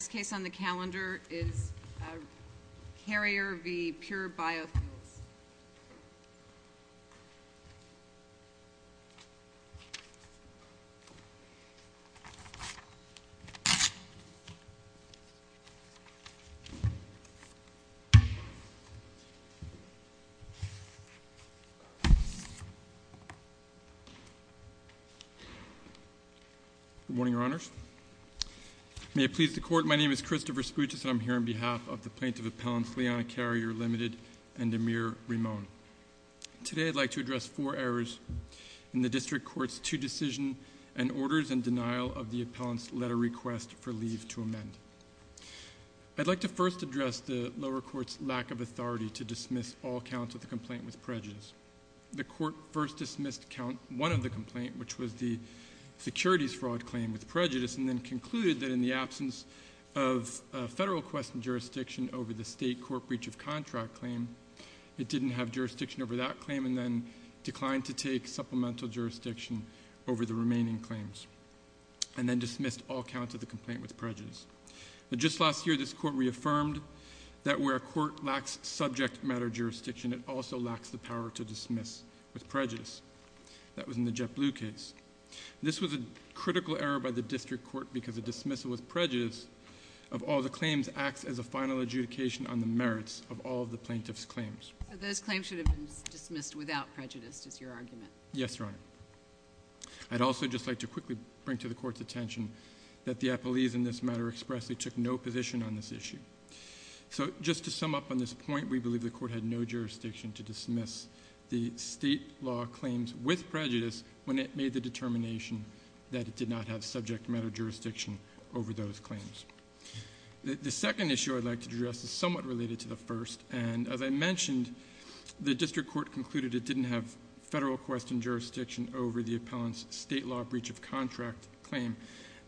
This case on the calendar is Carrier v. Pure Bio Fuels. Good morning, Your Honors. May it please the Court, my name is Christopher Sputis and I'm here on behalf of the Plaintiff Appellants Liana Carrier Ltd. and Amir Ramon. Today I'd like to address four errors in the District Court's two decision and orders in denial of the Appellant's letter request for leave to amend. I'd like to first address the lower court's lack of authority to dismiss all counts of the complaint with prejudice. The court first dismissed count one of the complaint, which was the securities fraud claim with prejudice, and then concluded that in the absence of federal question jurisdiction over the state court breach of contract claim, it didn't have jurisdiction over that claim and then declined to take supplemental jurisdiction over the remaining claims. And then dismissed all counts of the complaint with prejudice. Just last year this court reaffirmed that where a court lacks subject matter jurisdiction, it also lacks the power to dismiss with prejudice. That was in the JetBlue case. This was a critical error by the District Court because a dismissal with prejudice of all the claims acts as a final adjudication on the merits of all the plaintiff's claims. Those claims should have been dismissed without prejudice is your argument. Yes, Your Honor. I'd also just like to quickly bring to the court's attention that the appellees in this matter expressly took no position on this issue. So just to sum up on this point, we believe the court had no jurisdiction to dismiss the state law claims with prejudice when it made the determination that it did not have subject matter jurisdiction over those claims. The second issue I'd like to address is somewhat related to the first. And as I mentioned, the District Court concluded it didn't have federal question jurisdiction over the appellant's state law breach of contract claim.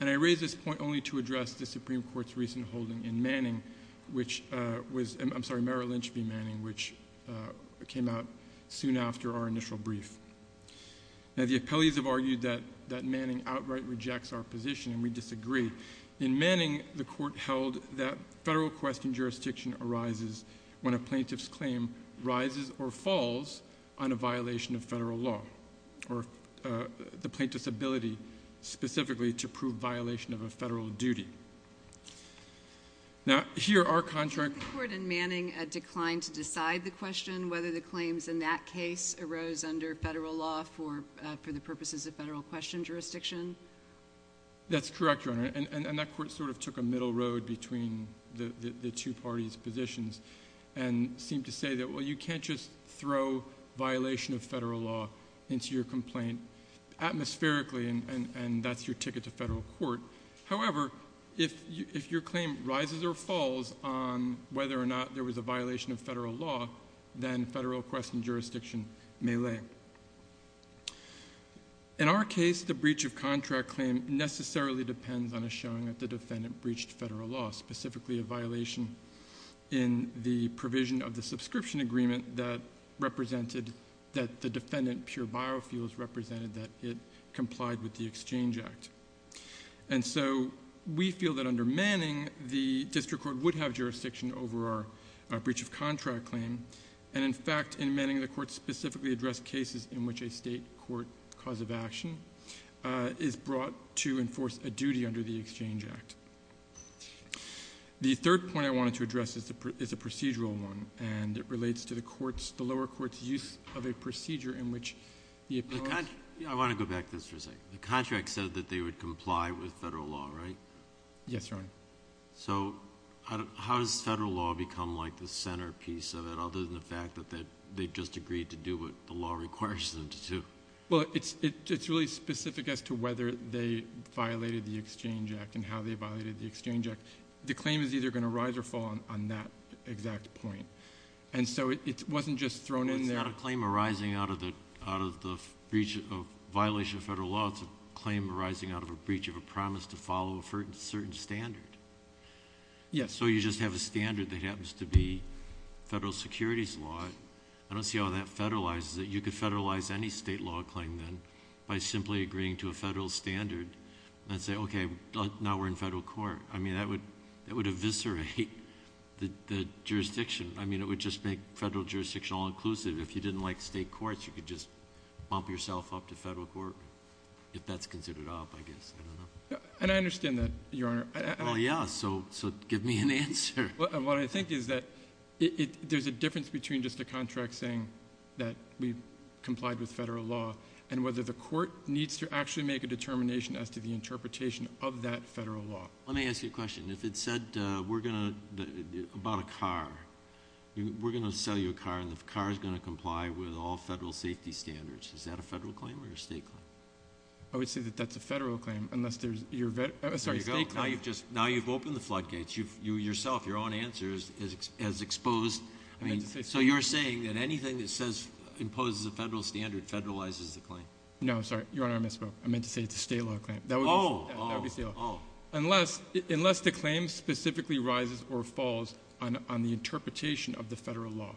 And I raise this point only to address the Supreme Court's recent holding in Manning, which was, I'm sorry, Merrill Lynch v. Manning, which came out soon after our initial brief. Now the appellees have argued that Manning outright rejects our position and we disagree. In Manning, the court held that federal question jurisdiction arises when a plaintiff's claim rises or falls on a violation of federal law or the plaintiff's ability specifically to prove violation of a federal duty. Now here our contract- Did the court in Manning decline to decide the question whether the claims in that case arose under federal law for the purposes of federal question jurisdiction? That's correct, Your Honor. And that court sort of took a middle road between the two parties' positions and seemed to say that, well, you can't just throw violation of federal law into your complaint atmospherically and that's your ticket to federal court. However, if your claim rises or falls on whether or not there was a violation of federal law, then federal question jurisdiction may lay. In our case, the breach of contract claim necessarily depends on a showing that the defendant breached federal law, specifically a violation in the provision of the subscription agreement that represented that the defendant pure biofuels represented that it complied with the Exchange Act. And so we feel that under Manning, the district court would have jurisdiction over our breach of contract claim. And in fact, in Manning, the court specifically addressed cases in which a state court cause of action is brought to enforce a duty under the Exchange Act. The third point I wanted to address is a procedural one, and it relates to the lower court's use of a procedure in which the- I want to go back to this for a second. The contract said that they would comply with federal law, right? Yes, Your Honor. So how does federal law become like the centerpiece of it other than the fact that they just agreed to do what the law requires them to do? Well, it's really specific as to whether they violated the Exchange Act and how they violated the Exchange Act. The claim is either going to rise or fall on that exact point. And so it wasn't just thrown in there- Well, it's not a claim arising out of the breach of violation of federal law. It's a claim arising out of a breach of a promise to follow a certain standard. Yes. So you just have a standard that happens to be federal securities law. I don't see how that federalizes it. You could federalize any state law claim then by simply agreeing to a federal standard and say, okay, now we're in federal court. I mean, that would eviscerate the jurisdiction. I mean, it would just make federal jurisdiction all-inclusive. If you didn't like state courts, you could just bump yourself up to federal court, if that's considered up, I guess. I don't know. And I understand that, Your Honor. Well, yeah, so give me an answer. What I think is that there's a difference between just a contract saying that we complied with federal law and whether the court needs to actually make a determination as to the interpretation of that federal law. Let me ask you a question. If it said about a car, we're going to sell you a car, and the car is going to comply with all federal safety standards, is that a federal claim or a state claim? I would say that that's a federal claim, unless there's your vet— There you go. Now you've opened the floodgates. Yourself, your own answer is exposed. So you're saying that anything that imposes a federal standard federalizes the claim? No, sorry. Your Honor, I misspoke. I meant to say it's a state law claim. That would be state law. Unless the claim specifically rises or falls on the interpretation of the federal law.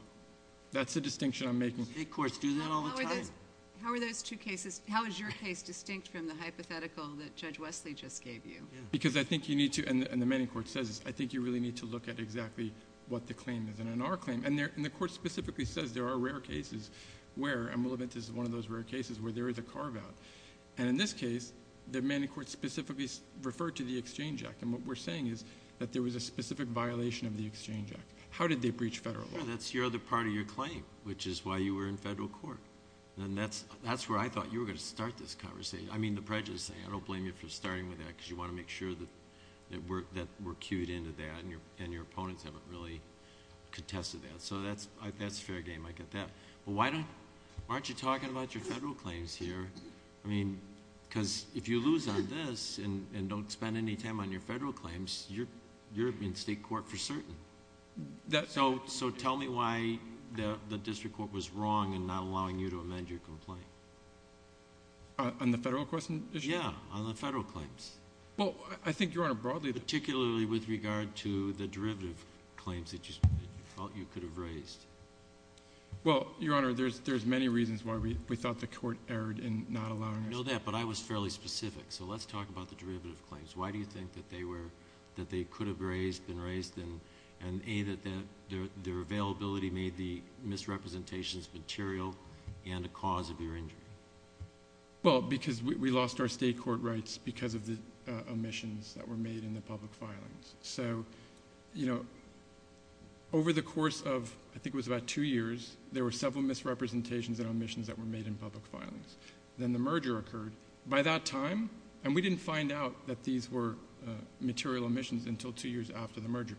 That's the distinction I'm making. State courts do that all the time. How are those two cases, how is your case distinct from the hypothetical that Judge Wesley just gave you? Because I think you need to, and the Manning Court says this, I think you really need to look at exactly what the claim is. And in our claim, and the court specifically says there are rare cases where, and we'll admit this is one of those rare cases where there is a carve-out. And in this case, the Manning Court specifically referred to the Exchange Act. And what we're saying is that there was a specific violation of the Exchange Act. How did they breach federal law? That's the other part of your claim, which is why you were in federal court. And that's where I thought you were going to start this conversation. I mean the prejudice thing. I don't blame you for starting with that because you want to make sure that we're cued into that and your opponents haven't really contested that. So that's fair game. I get that. But why aren't you talking about your federal claims here? I mean because if you lose on this and don't spend any time on your federal claims, you're in state court for certain. So tell me why the district court was wrong in not allowing you to amend your complaint. On the federal question issue? Yeah, on the federal claims. Well, I think, Your Honor, broadly. Particularly with regard to the derivative claims that you felt you could have raised. Well, Your Honor, there's many reasons why we thought the court erred in not allowing us to. I know that, but I was fairly specific. So let's talk about the derivative claims. Why do you think that they could have been raised and, A, that their availability made the misrepresentations material and a cause of your injury? Well, because we lost our state court rights because of the omissions that were made in the public filings. So, you know, over the course of I think it was about two years, there were several misrepresentations and omissions that were made in public filings. Then the merger occurred. By that time, and we didn't find out that these were material omissions until two years after the merger.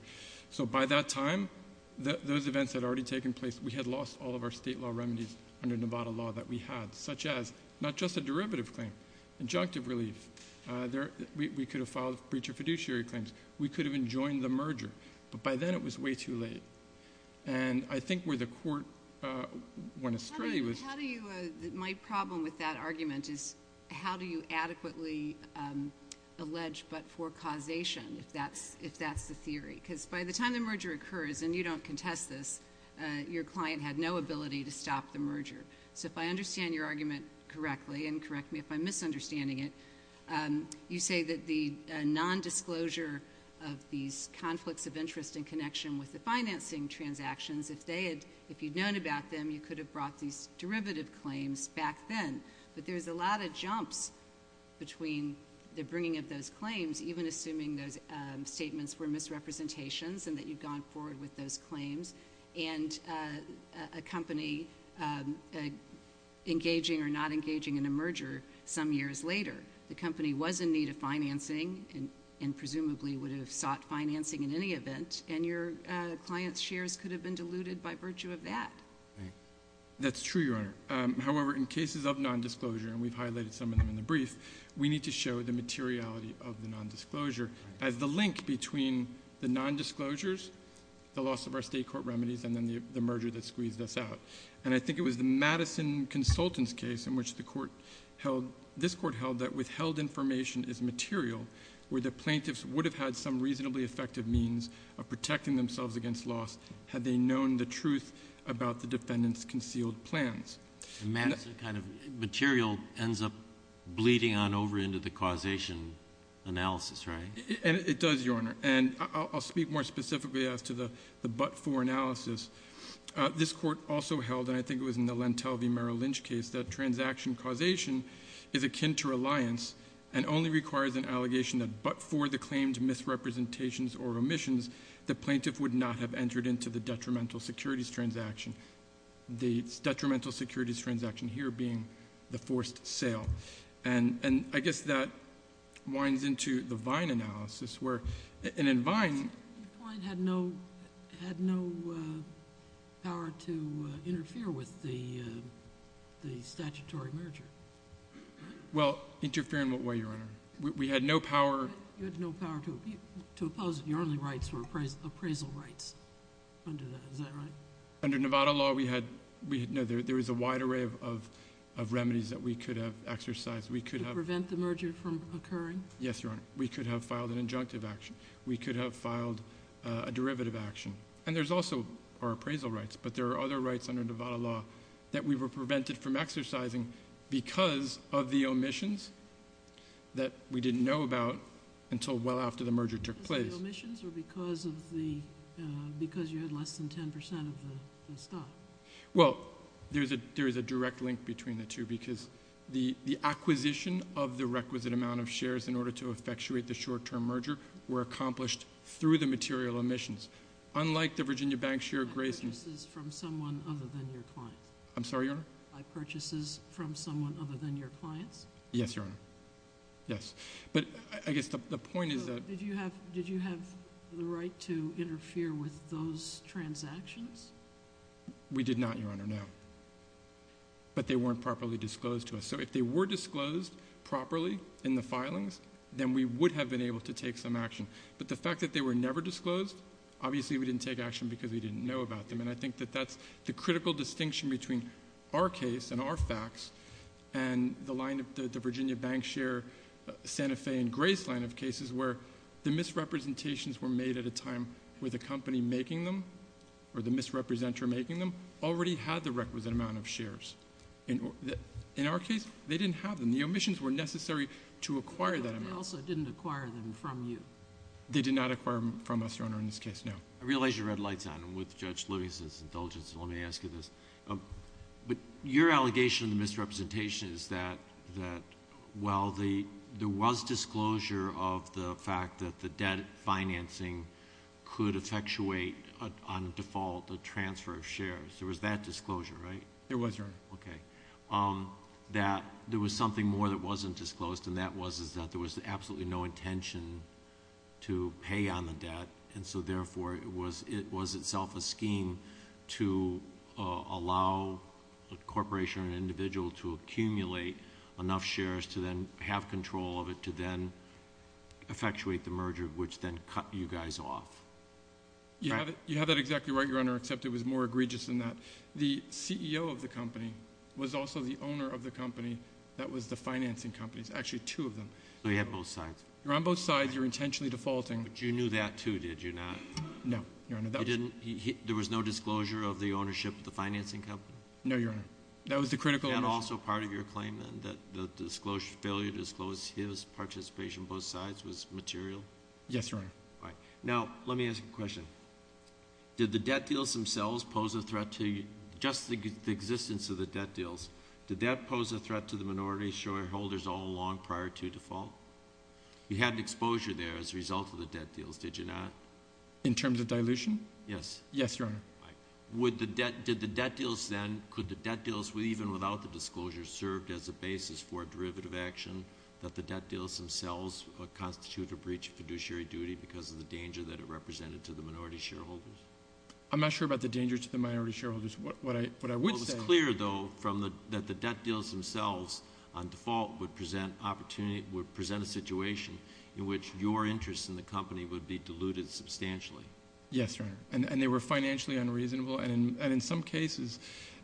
So by that time, those events had already taken place. We had lost all of our state law remedies under Nevada law that we had, such as not just a derivative claim, injunctive relief. We could have filed breach of fiduciary claims. We could have enjoined the merger. But by then it was way too late. And I think where the court went astray was... How do you, my problem with that argument is how do you adequately allege but for causation if that's the theory? Because by the time the merger occurs, and you don't contest this, your client had no ability to stop the merger. So if I understand your argument correctly, and correct me if I'm misunderstanding it, you say that the nondisclosure of these conflicts of interest in connection with the financing transactions, if you'd known about them, you could have brought these derivative claims back then. But there's a lot of jumps between the bringing of those claims, even assuming those statements were misrepresentations and that you'd gone forward with those claims, and a company engaging or not engaging in a merger some years later. The company was in need of financing and presumably would have sought financing in any event, and your client's shares could have been diluted by virtue of that. That's true, Your Honor. However, in cases of nondisclosure, and we've highlighted some of them in the brief, we need to show the materiality of the nondisclosure as the link between the nondisclosures, the loss of our state court remedies, and then the merger that squeezed us out. And I think it was the Madison Consultants case in which the court held, this court held that withheld information is material, where the plaintiffs would have had some reasonably effective means of protecting themselves against loss had they known the truth about the defendant's concealed plans. Madison kind of material ends up bleeding on over into the causation analysis, right? It does, Your Honor. And I'll speak more specifically as to the but-for analysis. This court also held, and I think it was in the Lentel v. Merrill Lynch case, that transaction causation is akin to reliance and only requires an allegation that but for the claimed misrepresentations or omissions, the plaintiff would not have entered into the detrimental securities transaction, the detrimental securities transaction here being the forced sale. And I guess that winds into the Vine analysis where, and in Vine— Vine had no power to interfere with the statutory merger, right? Well, interfere in what way, Your Honor? We had no power— You had no power to oppose it. Your only rights were appraisal rights under that. Is that right? Under Nevada law, we had—no, there was a wide array of remedies that we could have exercised. We could have— To prevent the merger from occurring? Yes, Your Honor. We could have filed an injunctive action. We could have filed a derivative action. And there's also our appraisal rights, but there are other rights under Nevada law that we were prevented from exercising because of the omissions that we didn't know about until well after the merger took place. Because of the omissions or because you had less than 10 percent of the stock? Well, there is a direct link between the two because the acquisition of the requisite amount of shares in order to effectuate the short-term merger were accomplished through the material omissions. Unlike the Virginia Bank share of Grayson— By purchases from someone other than your clients? I'm sorry, Your Honor? By purchases from someone other than your clients? Yes, Your Honor. Yes. But I guess the point is that— Did you have the right to interfere with those transactions? We did not, Your Honor, no. But they weren't properly disclosed to us. So if they were disclosed properly in the filings, then we would have been able to take some action. But the fact that they were never disclosed, obviously we didn't take action because we didn't know about them. And I think that that's the critical distinction between our case and our facts and the line of the Virginia Bank share, Santa Fe and Gray's line of cases where the misrepresentations were made at a time where the company making them or the misrepresenter making them already had the requisite amount of shares. In our case, they didn't have them. The omissions were necessary to acquire that amount. But they also didn't acquire them from you. They did not acquire them from us, Your Honor, in this case, no. I realize you're red lights on. And with Judge Lewis's indulgence, let me ask you this. Your allegation of misrepresentation is that, well, there was disclosure of the fact that the debt financing could effectuate on default a transfer of shares. There was that disclosure, right? There was, Your Honor. Okay. That there was something more that wasn't disclosed, and that was that there was absolutely no intention to pay on the debt. And so, therefore, it was itself a scheme to allow a corporation or an individual to accumulate enough shares to then have control of it to then effectuate the merger, which then cut you guys off. You have that exactly right, Your Honor, except it was more egregious than that. The CEO of the company was also the owner of the company that was the financing companies, actually two of them. So you had both sides. You're on both sides. You're intentionally defaulting. But you knew that, too, did you not? No, Your Honor. There was no disclosure of the ownership of the financing company? No, Your Honor. That was the critical ownership. And also part of your claim, then, that the failure to disclose his participation on both sides was material? Yes, Your Honor. All right. Now, let me ask you a question. Did the debt deals themselves pose a threat to just the existence of the debt deals? Did that pose a threat to the minority shareholders all along prior to default? You had exposure there as a result of the debt deals, did you not? In terms of dilution? Yes. Yes, Your Honor. All right. Did the debt deals then, could the debt deals, even without the disclosure, served as a basis for a derivative action, that the debt deals themselves constitute a breach of fiduciary duty because of the danger that it represented to the minority shareholders? I'm not sure about the danger to the minority shareholders. What I would say— It was clear, though, that the debt deals themselves, on default, would present a situation in which your interest in the company would be diluted substantially. Yes, Your Honor. And they were financially unreasonable, and in some cases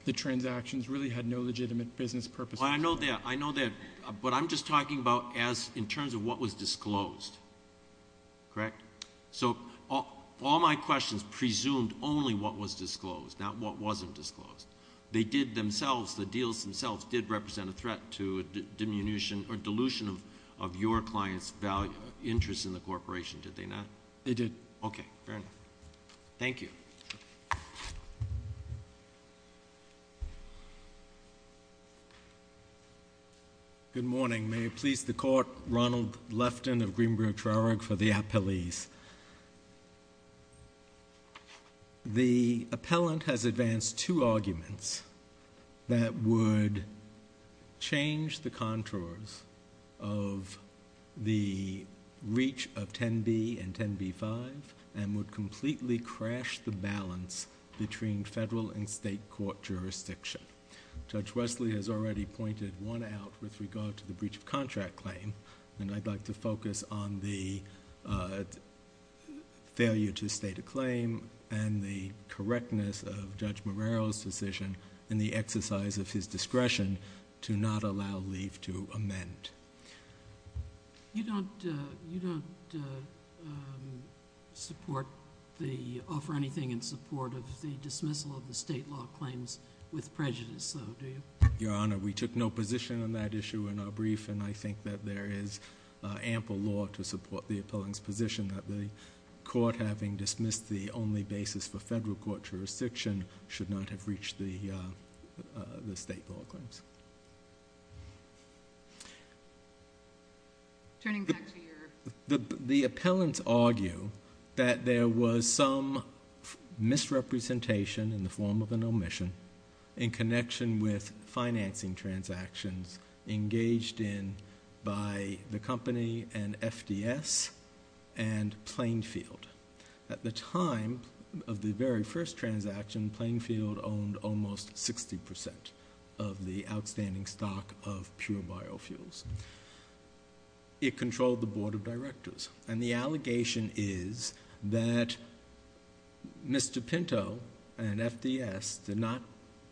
the transactions really had no legitimate business purposes. I know that. I know that. But I'm just talking about in terms of what was disclosed. Correct? So all my questions presumed only what was disclosed, not what wasn't disclosed. They did themselves, the deals themselves, did represent a threat to a diminution or dilution of your client's interest in the corporation, did they not? They did. Okay. Fair enough. Thank you. Good morning. May it please the Court, Ronald Lefton of Greenberg Traurig for the appellees. The appellant has advanced two arguments that would change the contours of the reach of 10b and 10b-5 and would completely crash the balance between federal and state court jurisdiction. Judge Wesley has already pointed one out with regard to the breach of contract claim, and I'd like to focus on the failure to state a claim and the correctness of Judge Marrero's decision and the exercise of his discretion to not allow leave to amend. You don't offer anything in support of the dismissal of the state law claims with prejudice, though, do you? Your Honor, we took no position on that issue in our brief, and I think that there is ample law to support the appellant's position that the court, having dismissed the only basis for federal court jurisdiction, should not have reached the state law claims. The appellants argue that there was some misrepresentation in the form of an omission in connection with financing transactions engaged in by the company and FDS and Plainfield. At the time of the very first transaction, Plainfield owned almost 60% of the outstanding stock of pure biofuels. It controlled the board of directors, and the allegation is that Mr. Pinto and FDS did not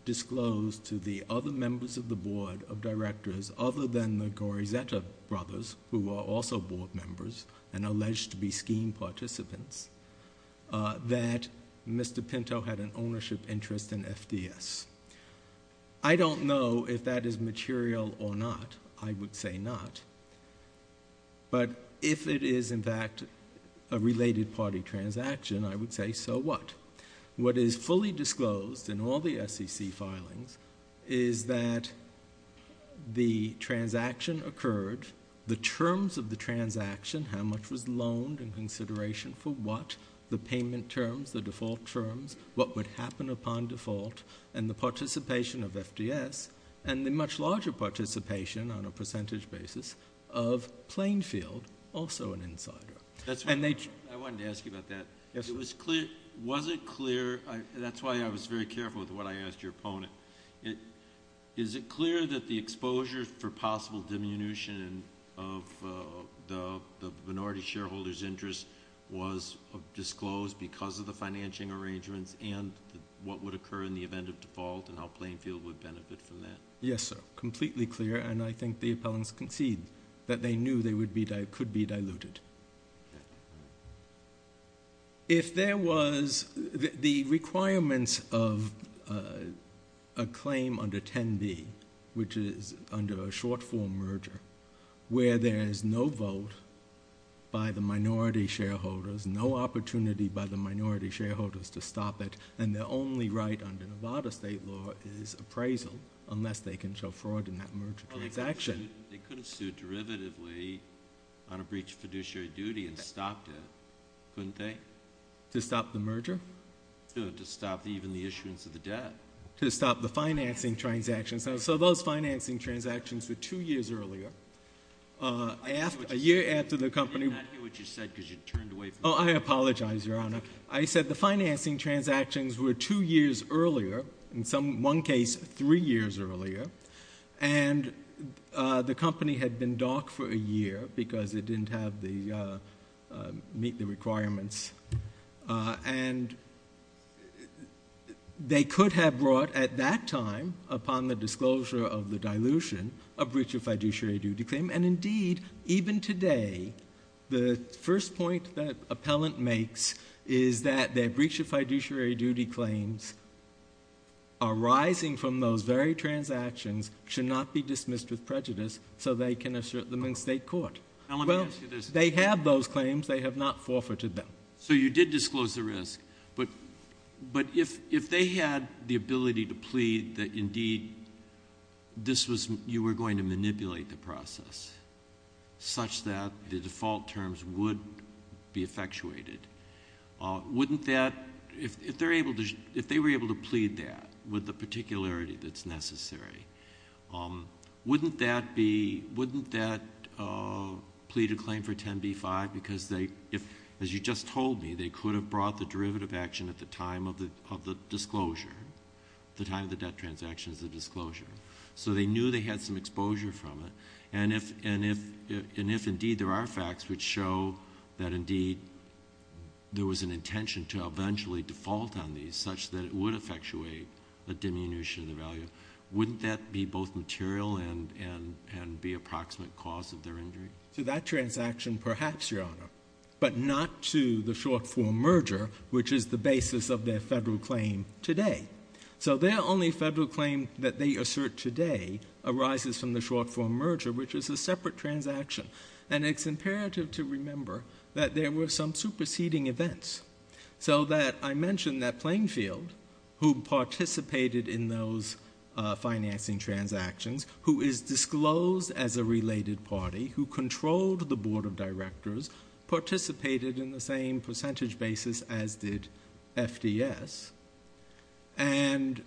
disclose to the other members of the board of directors, other than the Gorizetta brothers, who were also board members and alleged to be scheme participants, that Mr. Pinto had an ownership interest in FDS. I don't know if that is material or not. I would say not. But if it is, in fact, a related party transaction, I would say so what? What is fully disclosed in all the SEC filings is that the transaction occurred, the terms of the transaction, how much was loaned in consideration for what, the payment terms, the default terms, what would happen upon default, and the participation of FDS and the much larger participation on a percentage basis of Plainfield, also an insider. I wanted to ask you about that. Was it clear? That's why I was very careful with what I asked your opponent. Is it clear that the exposure for possible diminution of the minority shareholder's interest was disclosed because of the financing arrangements and what would occur in the event of default and how Plainfield would benefit from that? Yes, sir, completely clear, and I think the appellants concede that they knew they could be diluted. If there was the requirements of a claim under 10B, which is under a short-form merger, where there is no vote by the minority shareholders, no opportunity by the minority shareholders to stop it, and the only right under Nevada state law is appraisal unless they can show fraud in that merger transaction. They could have sued derivatively on a breach of fiduciary duty and stopped it, couldn't they? To stop the merger? No, to stop even the issuance of the debt. To stop the financing transactions. So those financing transactions were two years earlier, a year after the company. I did not hear what you said because you turned away from me. Oh, I apologize, Your Honor. I said the financing transactions were two years earlier, in one case three years earlier, and the company had been dark for a year because it didn't meet the requirements, and they could have brought, at that time, upon the disclosure of the dilution, a breach of fiduciary duty claim, and indeed, even today, the first point that appellant makes is that their breach of fiduciary duty claims arising from those very transactions should not be dismissed with prejudice so they can assert them in state court. Well, they have those claims. They have not forfeited them. So you did disclose the risk, but if they had the ability to plead that, indeed, you were going to manipulate the process such that the default terms would be effectuated, wouldn't that, if they were able to plead that with the particularity that's necessary, wouldn't that plead a claim for 10b-5 because, as you just told me, they could have brought the derivative action at the time of the disclosure, the time of the debt transaction as a disclosure. So they knew they had some exposure from it, and if, indeed, there are facts which show that, indeed, there was an intention to eventually default on these such that it would effectuate a diminution of the value, wouldn't that be both material and be a proximate cause of their injury? To that transaction, perhaps, Your Honor, but not to the short-form merger, which is the basis of their federal claim today. So their only federal claim that they assert today arises from the short-form merger, which is a separate transaction, and it's imperative to remember that there were some superseding events so that I mentioned that Plainfield, who participated in those financing transactions, who is disclosed as a related party, who controlled the Board of Directors, participated in the same percentage basis as did FDS, and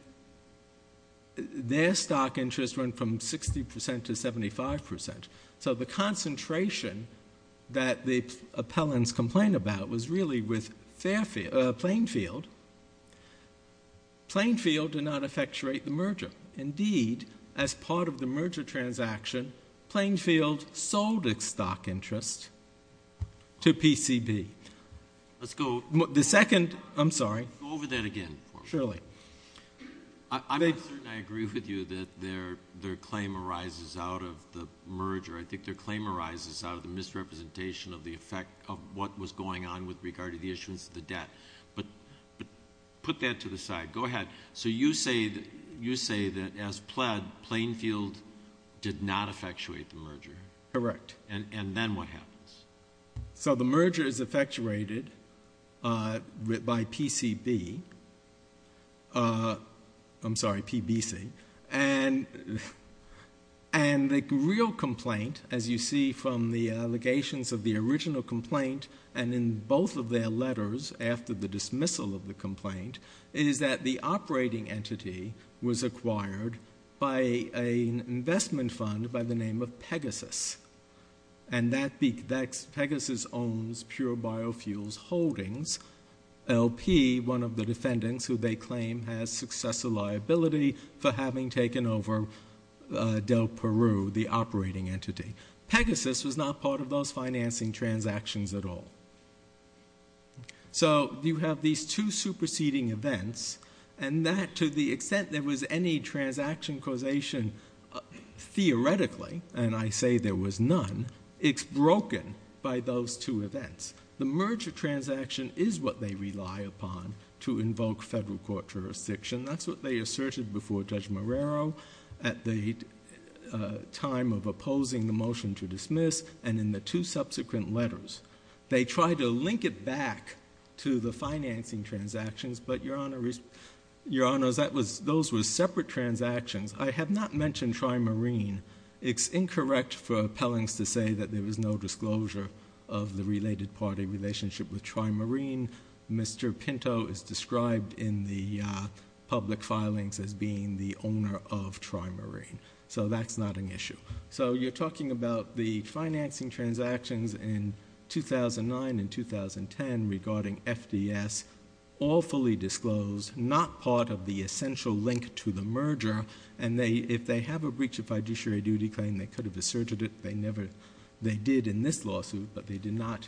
their stock interest went from 60% to 75%. So the concentration that the appellants complained about was really with Plainfield. Plainfield did not effectuate the merger. Indeed, as part of the merger transaction, Plainfield sold its stock interest to PCB. Let's go over that again. Surely. I'm not certain I agree with you that their claim arises out of the merger. I think their claim arises out of the misrepresentation of the effect of what was going on with regard to the issuance of the debt. But put that to the side. Go ahead. So you say that as pled, Plainfield did not effectuate the merger. Correct. And then what happens? So the merger is effectuated by PCB. I'm sorry, PBC. And the real complaint, as you see from the allegations of the original complaint and in both of their letters after the dismissal of the complaint, is that the operating entity was acquired by an investment fund by the name of Pegasus. And Pegasus owns Pure Biofuels Holdings. LP, one of the defendants who they claim has successor liability for having taken over Del Peru, the operating entity. Pegasus was not part of those financing transactions at all. So you have these two superseding events. And that, to the extent there was any transaction causation theoretically, and I say there was none, it's broken by those two events. The merger transaction is what they rely upon to invoke federal court jurisdiction. That's what they asserted before Judge Marrero at the time of opposing the motion to dismiss, and in the two subsequent letters. They tried to link it back to the financing transactions, but, Your Honor, those were separate transactions. I have not mentioned Trimarine. It's incorrect for appellants to say that there was no disclosure of the related party relationship with Trimarine. Mr. Pinto is described in the public filings as being the owner of Trimarine. So that's not an issue. So you're talking about the financing transactions in 2009 and 2010 regarding FDS, all fully disclosed, not part of the essential link to the merger. And if they have a breach of fiduciary duty claim, they could have asserted it. They did in this lawsuit, but they did not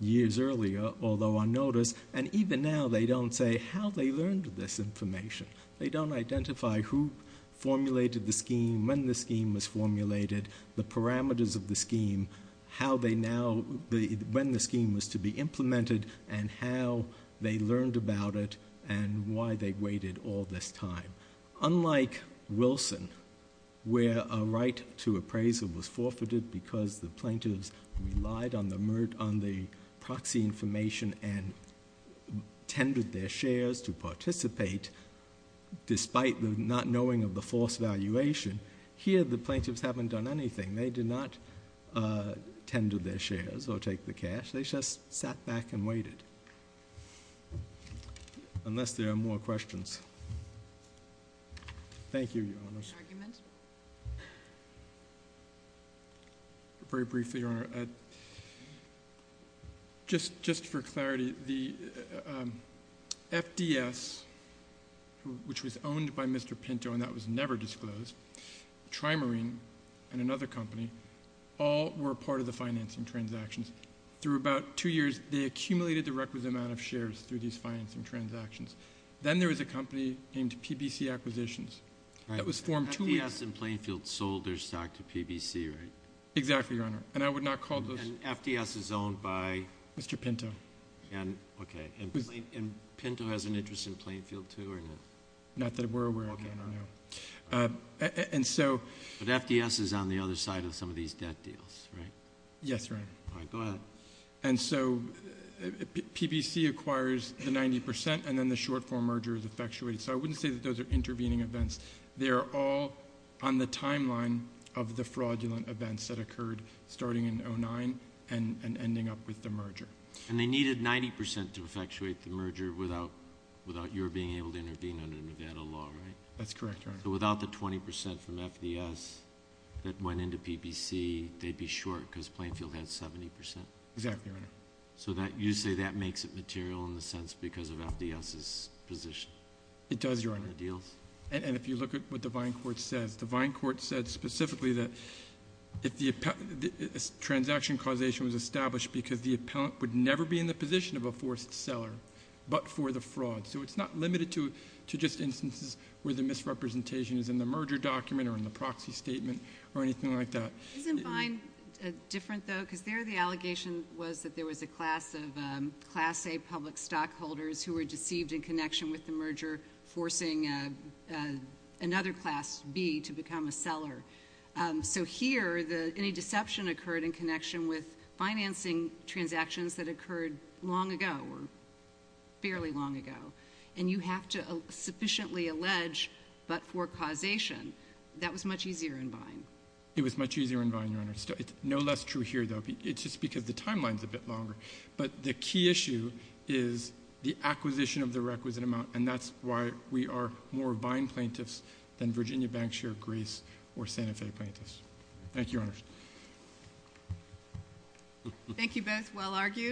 years earlier, although on notice. And even now they don't say how they learned this information. They don't identify who formulated the scheme, when the scheme was formulated, the parameters of the scheme, how they now, when the scheme was to be implemented, and how they learned about it and why they waited all this time. Unlike Wilson, where a right to appraisal was forfeited because the plaintiffs relied on the proxy information and tendered their shares to participate despite the not knowing of the false valuation, here the plaintiffs haven't done anything. They did not tender their shares or take the cash. They just sat back and waited, unless there are more questions. Thank you, Your Honors. Very briefly, Your Honor. Just for clarity, the FDS, which was owned by Mr. Pinto and that was never disclosed, TriMarine and another company, all were part of the financing transactions. Through about two years, they accumulated the requisite amount of shares through these financing transactions. Then there was a company named PBC Acquisitions that was formed two years ago. FDS and Plainfield sold their stock to PBC, right? Exactly, Your Honor, and I would not call those. And FDS is owned by? Mr. Pinto. Okay, and Pinto has an interest in Plainfield, too, or no? Not that we're aware of, no. Okay, all right. But FDS is on the other side of some of these debt deals, right? Yes, Your Honor. All right, go ahead. And so PBC acquires the 90% and then the short-form merger is effectuated. So I wouldn't say that those are intervening events. They are all on the timeline of the fraudulent events that occurred starting in 2009 and ending up with the merger. And they needed 90% to effectuate the merger without your being able to intervene under Nevada law, right? That's correct, Your Honor. So without the 20% from FDS that went into PBC, they'd be short because Plainfield had 70%. Exactly, Your Honor. So you say that makes it material in the sense because of FDS's position? It does, Your Honor. In the deals? And if you look at what the Vine Court says, the Vine Court said specifically that if the transaction causation was established because the appellant would never be in the position of a forced seller but for the fraud. So it's not limited to just instances where the misrepresentation is in the merger document or in the proxy statement or anything like that. Isn't Vine different, though? Because there the allegation was that there was a class of Class A public stockholders who were deceived in connection with the merger, forcing another Class B to become a seller. So here any deception occurred in connection with financing transactions that occurred long ago or fairly long ago. And you have to sufficiently allege but for causation. That was much easier in Vine. It was much easier in Vine, Your Honor. It's no less true here, though, just because the timeline's a bit longer. But the key issue is the acquisition of the requisite amount, and that's why we are more Vine plaintiffs than Virginia, Bankshire, Greece, or Santa Fe plaintiffs. Thank you, Your Honor. Thank you both. Well argued.